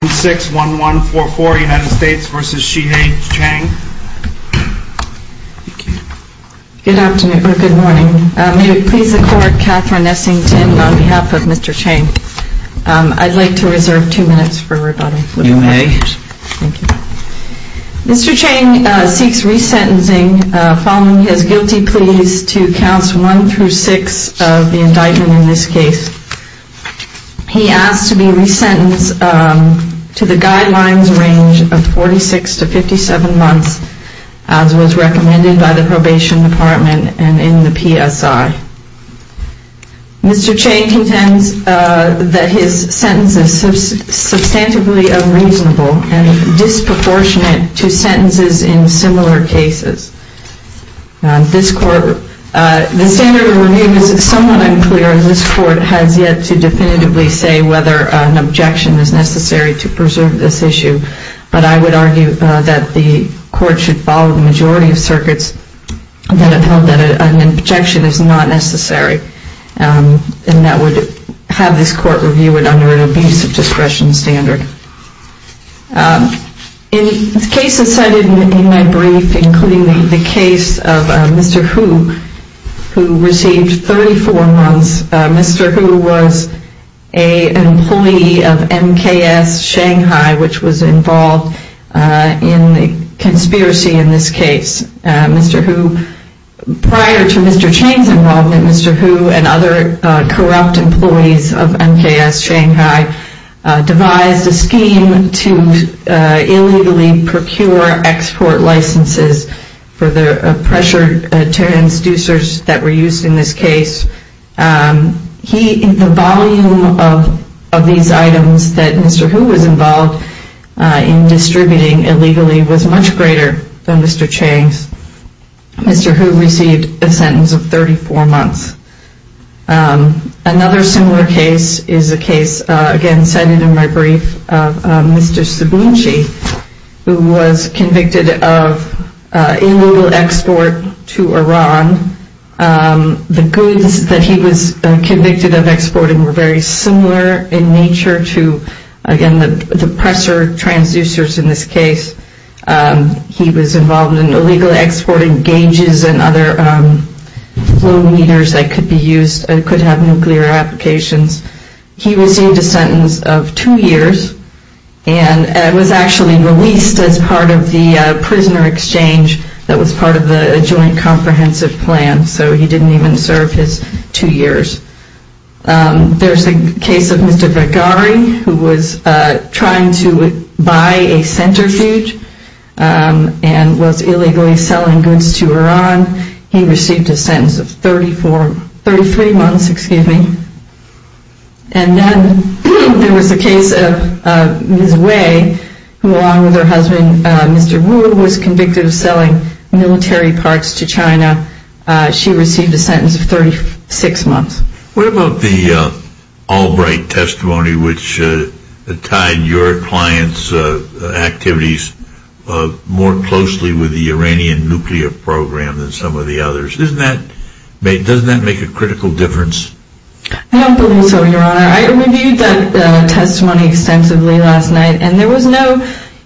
Good afternoon or good morning. May it please the court, Catherine Essington on behalf of Mr. Cheng. I'd like to reserve two minutes for rebuttal. You may. Mr. Cheng seeks resentencing following his guilty pleas to counts 1 through 6 of the indictment in this case. He asks to be resentenced to the guidelines range of 46 to 57 months as was recommended by the Probation Department and in the PSI. Mr. Cheng contends that his sentence is substantively unreasonable and disproportionate to sentences in similar cases. The standard of renewal was somewhat unclear and this court has yet to definitively say whether an objection is necessary to preserve this issue, but I would argue that the court should follow the majority of circuits that have held that an objection is not necessary and that would have this court review it under an abuse of discretion standard. In cases cited in my brief, including the case of Mr. Hu who received 34 months, Mr. Hu was an employee of MKS Shanghai which was involved in the conspiracy in this case. Mr. Hu, prior to Mr. Cheng's involvement, Mr. Hu and Mr. Cheng, Mr. Hu received a sentence of 34 months. Another similar case is a case again cited in my brief of Mr. Sabuuchi who was convicted of illegal export to Iran. The goods that he was convicted of exporting were very similar in nature to, again, the presser transducers in this case. He was involved in illegally exporting gauges and other flow meters that could be used, that could have nuclear applications. He received a sentence of two years and was actually released as part of the prisoner exchange that was part of the joint comprehensive plan, so he didn't even serve his two years. There's a case of Mr. Vergari who was trying to buy a centrifuge and was illegally selling goods to Iran. He received a sentence of two years. He received a sentence of 33 months. And then there was a case of Ms. Wei who, along with her husband, Mr. Wu, who was convicted of selling military parts to China. She received a sentence of 36 months. What about the Albright testimony which tied your client's activities more closely with the Iranian nuclear program than some of the others? Doesn't that make a critical difference? I don't believe so, Your Honor. I reviewed that testimony extensively last night and there was no,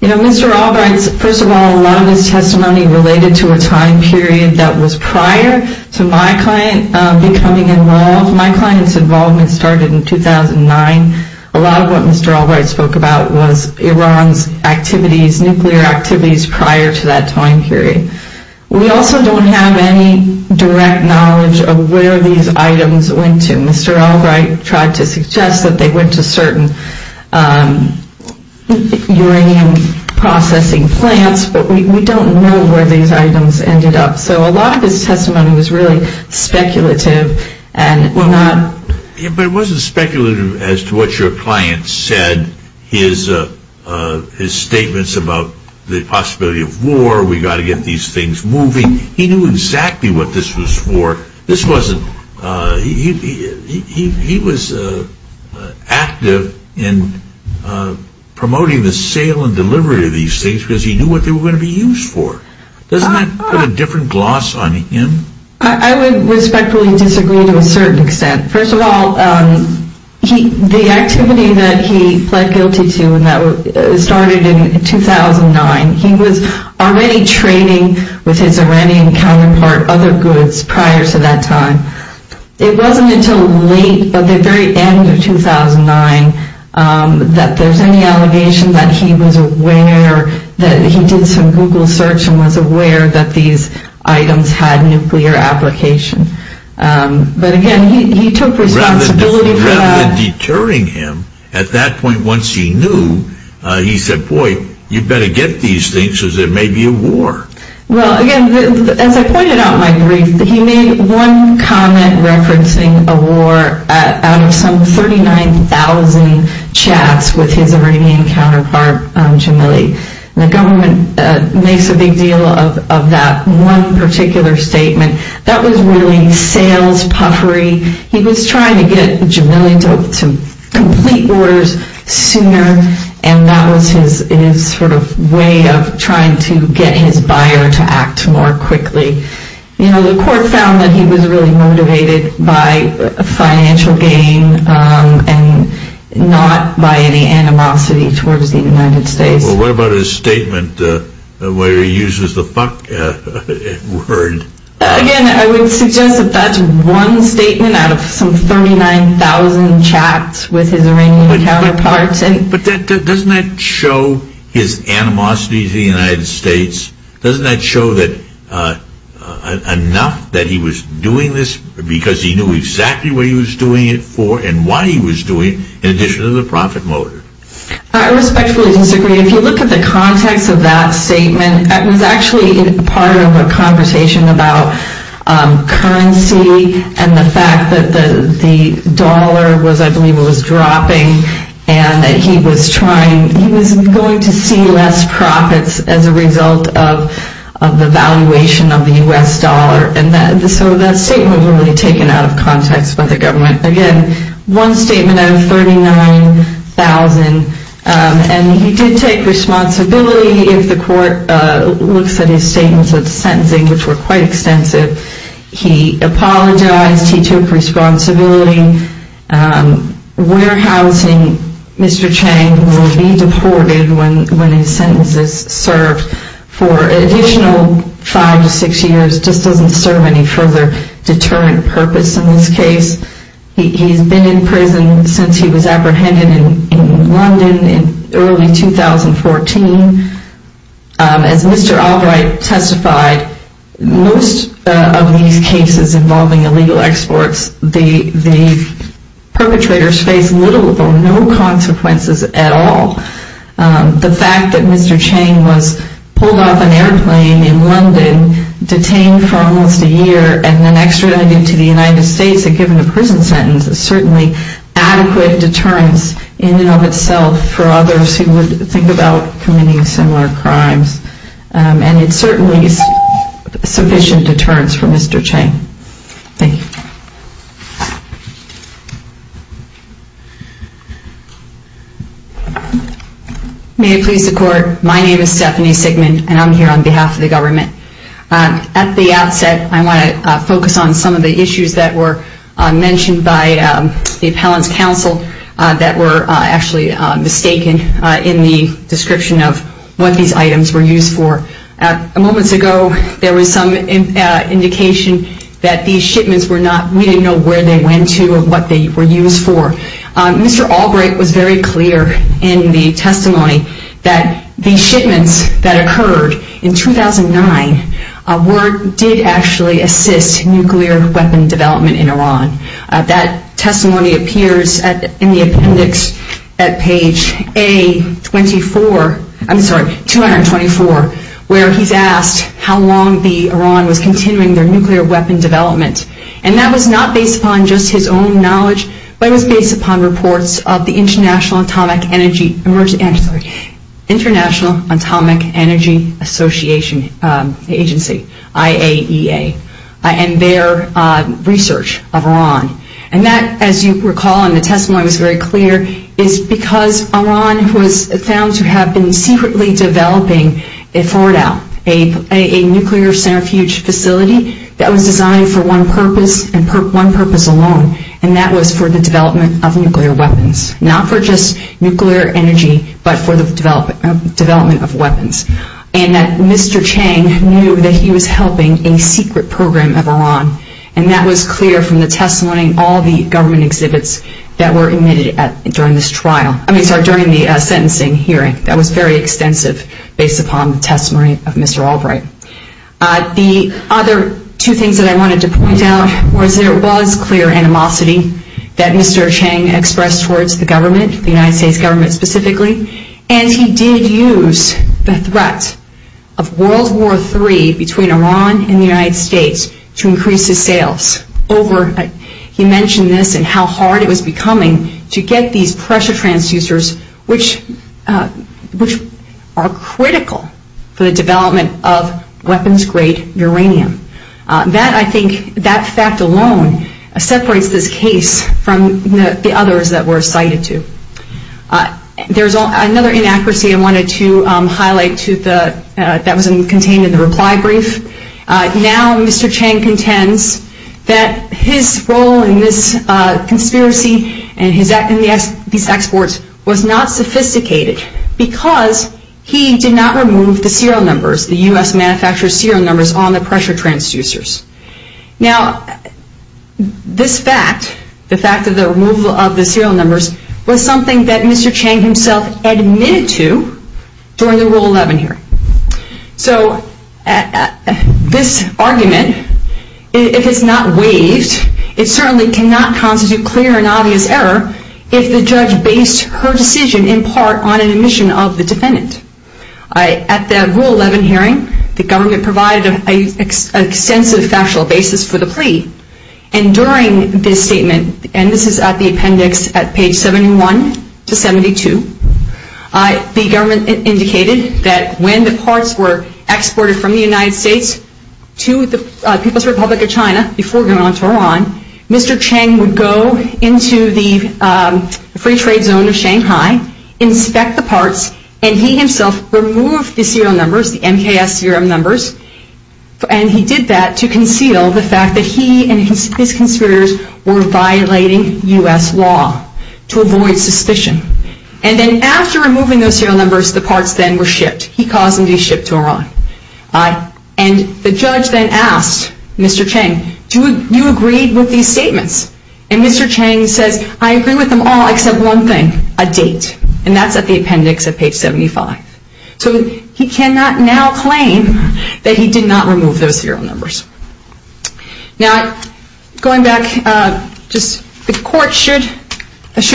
you know, Mr. Albright's, first of all, a lot of his testimony related to a time period that was prior to my client becoming involved. My client's involvement started in 2009. A lot of what Mr. Albright spoke about was Iran's activities, nuclear activities prior to that time period. We also don't have any direct knowledge of where these items went to. Mr. Albright tried to suggest that they went to certain uranium processing plants, but we don't know where these items ended up. So a lot of his testimony was really speculative. But it wasn't speculative as to what your client said, his statements about the possibility of war, we've got to get these things moving. He knew exactly what this was for. He was active in promoting the sale and delivery of these things because he knew what they were going to be used for. Doesn't that put a different gloss on him? I would respectfully disagree to a certain extent. First of all, the activity that he pled guilty to started in 2009. He was already trading with his Iranian counterpart other goods prior to that time. It wasn't until late, at the very end of 2009, that there's any allegation that he was aware, that he did some Google search and was aware that these items had nuclear application. But again, he took responsibility for that. Rather than deterring him, at that point once he knew, he said, boy, you better get these things or there may be a war. Well, again, as I pointed out in my brief, he made one comment referencing a war out of some 39,000 chats with his Iranian counterpart, Jamili. The government makes a big deal of that one particular statement. That was really sales puffery. He was trying to get Jamili to complete orders sooner, and that was his sort of way of trying to get his buyer to act more quickly. You know, the court found that he was really motivated by financial gain and not by any animosity towards the United States. Well, what about his statement where he uses the fuck word? Again, I would suggest that that's one statement out of some 39,000 chats with his Iranian counterpart. But doesn't that show his animosity to the United States? Doesn't that show enough that he was doing this because he knew exactly what he was doing it for and why he was doing it in addition to the profit motive? I respectfully disagree. If you look at the context of that statement, that was actually part of a conversation about currency and the fact that the dollar was, I believe it was dropping, and that he was trying, he was going to see less profits as a result of the valuation of the U.S. dollar. And so that statement was really taken out of context by the government. Again, one statement out of 39,000, and he did take responsibility. If the court looks at his statements of sentencing, which were quite extensive, he apologized, he took responsibility. Warehousing Mr. Chang will be deported when his sentence is served. For an additional five to six years just doesn't serve any further deterrent purpose in this case. He's been in prison since he was apprehended in London in early 2014. As Mr. Albright testified, most of these cases involving illegal exports, the perpetrators face little or no consequences at all. The fact that Mr. Chang was pulled off an airplane in London, detained for almost a year, and then extradited to the United States and given a prison sentence is certainly adequate deterrence in and of itself for others who would think about committing similar crimes. And it's certainly sufficient deterrence for Mr. Chang. Thank you. May it please the court, my name is Stephanie Sigmund, and I'm here on behalf of the government. At the outset, I want to focus on some of the issues that were mentioned by the appellant's counsel that were actually mistaken in the description of what these items were used for. Moments ago, there was some indication that these shipments were not, we didn't know where they went to or what they were used for. Mr. Albright was very clear in the testimony that the shipments that occurred in 2009 did actually assist nuclear weapon development in Iran. That testimony appears in the appendix at page A24, I'm sorry, 224, where he's asked how long Iran was continuing their nuclear weapon development. And that was not based upon just his own knowledge, but it was based upon reports of the International Atomic Energy Association, IAEA, and their research of Iran. And that, as you recall in the testimony, was very clear, is because Iran was found to have been secretly developing a forward out, a nuclear centrifuge facility that was designed for one purpose and one purpose alone, and that was for the development of nuclear weapons. Not for just nuclear energy, but for the development of weapons. And that Mr. Chang knew that he was helping a secret program of Iran, and that was clear from the testimony of all the government exhibits that were emitted during this trial, I mean, sorry, during the sentencing hearing. That was very extensive based upon the testimony of Mr. Albright. The other two things that I wanted to point out was there was clear animosity that Mr. Chang expressed towards the government, the United States government specifically, and he did use the threat of World War III between Iran and the United States to increase his sales over, he mentioned this and how hard it was becoming to get these pressure transducers, which are critical for the development of weapons-grade uranium. That, I think, that fact alone separates this case from the others that were cited to. There's another inaccuracy I wanted to highlight that was contained in the reply brief. Now Mr. Chang contends that his role in this conspiracy and his act in these exports was not sophisticated because he did not remove the serial numbers, the U.S. manufactured serial numbers on the pressure transducers. Now this fact, the fact of the removal of the serial numbers, was something that Mr. Chang himself admitted to during the Rule 11 hearing. So this argument, if it's not waived, it certainly cannot constitute clear and obvious error if the judge based her decision in part on an admission of the defendant. At the Rule 11 hearing, the government provided an extensive factual basis for the plea. And during this statement, and this is at the appendix at page 71 to 72, the government indicated that when the parts were exported from the United States to the People's Republic of China before going on to Iran, Mr. Chang would go into the free trade zone of Shanghai, inspect the parts, and he himself removed the serial numbers, the MKS serial numbers, and he did that to conceal the fact that he and his conspirators were violating U.S. law to avoid suspicion. And then after removing those serial numbers, the parts then were shipped. He caused them to be shipped to Iran. And the judge then asked Mr. Chang, do you agree with these statements? And Mr. Chang says, I agree with them all except one thing, a date. And that's at the appendix at page 75. So he cannot now claim that he did not remove those serial numbers. Now, going back, the court should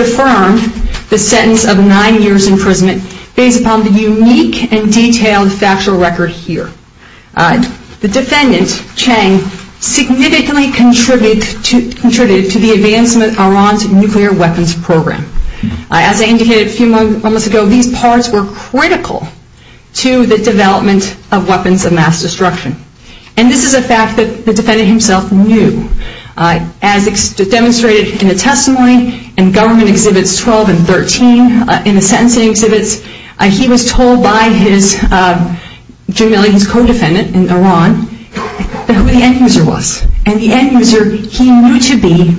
affirm the sentence of nine years' imprisonment based upon the unique and detailed factual record here. The defendant, Chang, significantly contributed to the advancement of Iran's nuclear weapons program. As I indicated a few moments ago, these parts were critical to the development of weapons of mass destruction. And this is a fact that the defendant himself knew. As demonstrated in the testimony in Government Exhibits 12 and 13, in the sentencing exhibits, he was told by his co-defendant in Iran who the end user was. And the end user, he knew to be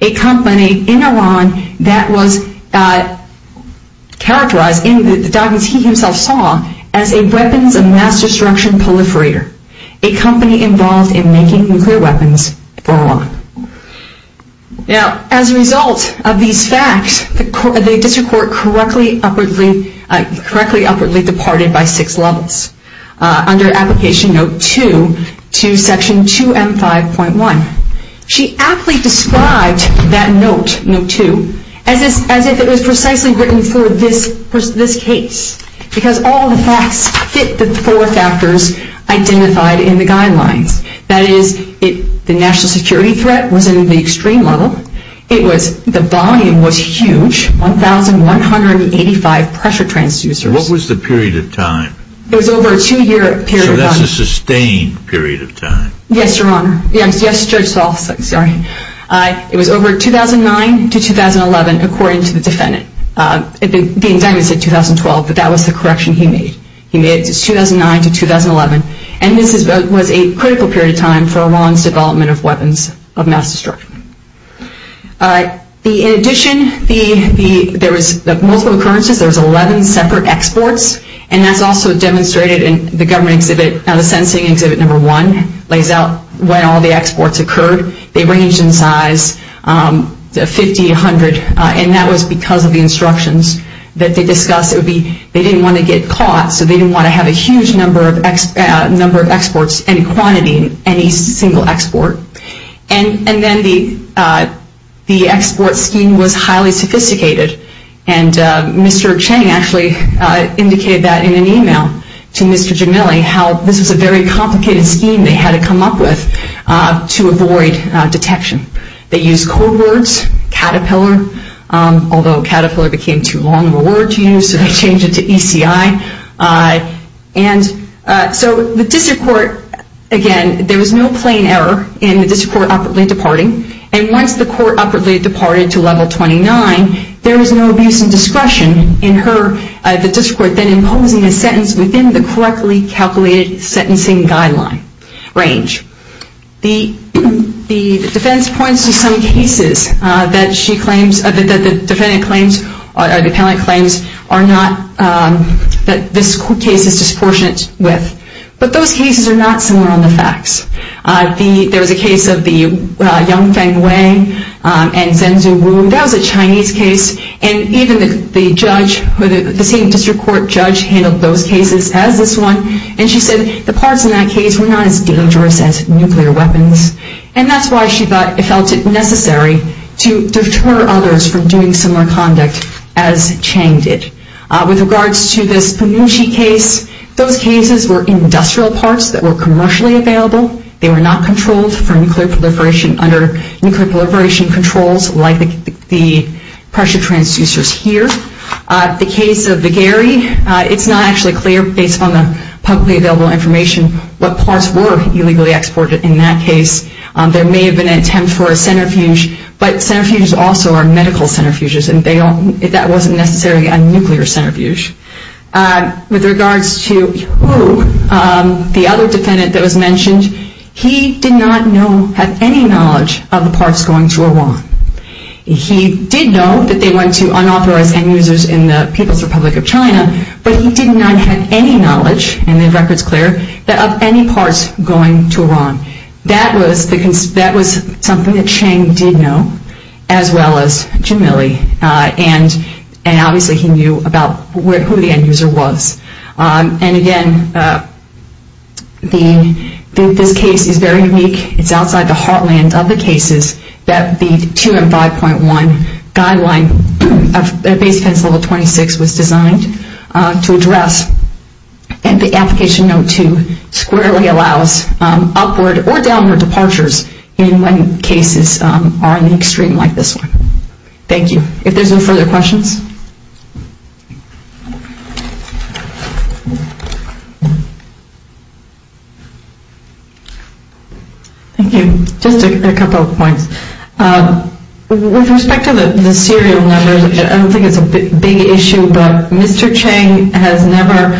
a company in Iran that was characterized in the documents he himself saw as a weapons of mass destruction proliferator, a company involved in making nuclear weapons for Iran. Now, as a result of these facts, the district court correctly upwardly departed by six levels. Under Application Note 2 to Section 2M5.1. She aptly described that note, Note 2, as if it was precisely written for this case because all the facts fit the four factors identified in the guidelines. That is, the national security threat was in the extreme level. The volume was huge, 1,185 pressure transducers. What was the period of time? It was over a two-year period of time. So that's a sustained period of time. Yes, Your Honor. Yes, it was over 2009 to 2011 according to the defendant. The indictment said 2012, but that was the correction he made. He made it 2009 to 2011. And this was a critical period of time for Iran's development of weapons of mass destruction. In addition, there was multiple occurrences. There was 11 separate exports and that's also demonstrated in the government exhibit. Now the Sentencing Exhibit No. 1 lays out when all the exports occurred. They ranged in size, 50, 100, and that was because of the instructions that they discussed. They didn't want to get caught, so they didn't want to have a huge number of exports and quantity in any single export. And then the export scheme was highly sophisticated. And Mr. Cheng actually indicated that in an email to Mr. Jamili how this was a very complicated scheme they had to come up with to avoid detection. They used code words, caterpillar, although caterpillar became too long of a word to use, so they changed it to ECI. And so the district court, again, there was no plain error in the district court abruptly departing. And once the court abruptly departed to Level 29, there was no abuse and discretion in her, the district court, then imposing a sentence within the correctly calculated sentencing guideline range. The defense points to some cases that she claims, that the defendant claims, or the appellant claims, are not, that this case is disproportionate with. But those cases are not similar on the facts. There was a case of the young Feng Wang and Zhenzhu Wu. That was a Chinese case. And even the judge, the same district court judge, handled those cases as this one. And she said the parts in that case were not as dangerous as nuclear weapons. And that's why she felt it necessary to deter others from doing similar conduct as Cheng did. With regards to this Peng Wuxi case, those cases were industrial parts that were commercially available. They were not controlled for nuclear proliferation under nuclear proliferation controls like the pressure transducers here. The case of the Gary, it's not actually clear, based on the publicly available information, what parts were illegally exported in that case. There may have been an attempt for a centrifuge, but centrifuges also are medical centrifuges and that wasn't necessarily a nuclear centrifuge. With regards to Wu, the other defendant that was mentioned, he did not know, have any knowledge of the parts going to Iran. He did know that they went to unauthorized end-users in the People's Republic of China, but he did not have any knowledge, and the record's clear, of any parts going to Iran. That was something that Cheng did know, as well as Jim Milley. And obviously he knew about who the end-user was. And again, this case is very unique. It's outside the heartland of the cases that the 2M5.1 guideline of Base Pencil Level 26 was designed to address and the Application Note 2 squarely allows upward or downward departures in when cases are in the extreme like this one. Thank you. If there's no further questions? Thank you. Just a couple of points. With respect to the serial numbers, I don't think it's a big issue, but Mr. Cheng has never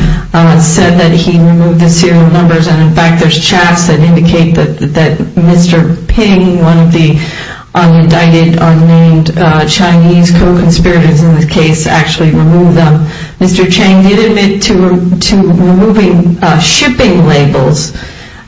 said that he removed the serial numbers, and in fact, there's chats that indicate that Mr. Ping, one of the undicted, unnamed Chinese co-conspirators in this case actually removed them. Mr. Cheng did admit to removing shipping labels,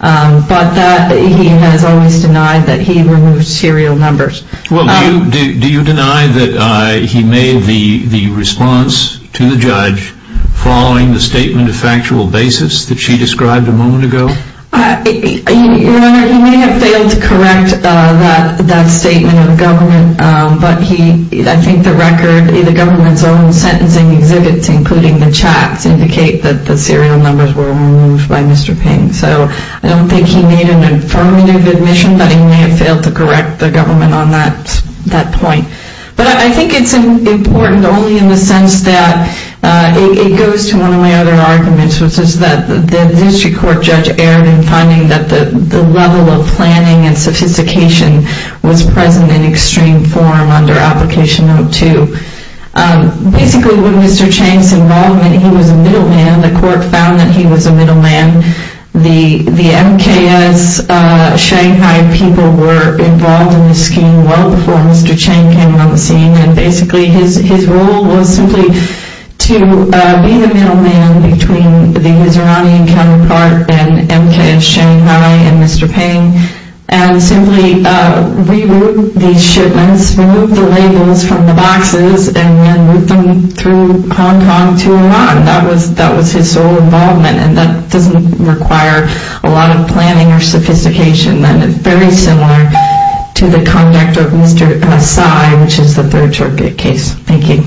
but that he has always denied that he removed serial numbers. Well, do you deny that he made the response to the judge following the statement of factual basis that she described a moment ago? Your Honor, he may have failed that statement of the government, but he, I think the record in the government's own sentencing exhibits including the chats indicate that he removed the serial numbers and he did indicate that the serial numbers were removed by Mr. Ping. So, I don't think he made an affirmative admission that he may have failed to correct the government on that point. But I think it's important only in the sense that it goes to one of my other arguments which is that the district court judge erred in finding that the level of planning and sophistication was present in extreme form under application no. 2. Basically, with Mr. Chang's involvement, he was a middle man. The court found that he was a middle man. The MKS Shanghai people were involved in the scheme well before Mr. Chang came on the scene and basically his role was simply to be the middle man between the Husserani counterpart and MKS Shanghai and Mr. Ping and simply reroute these shipments, remove the labels from the boxes and then route them through Hong Kong to Iran. That was his sole involvement and that doesn't require a lot of planning or sophistication and is very similar to the conduct of Mr. Tsai which is the third circuit case. Thank you.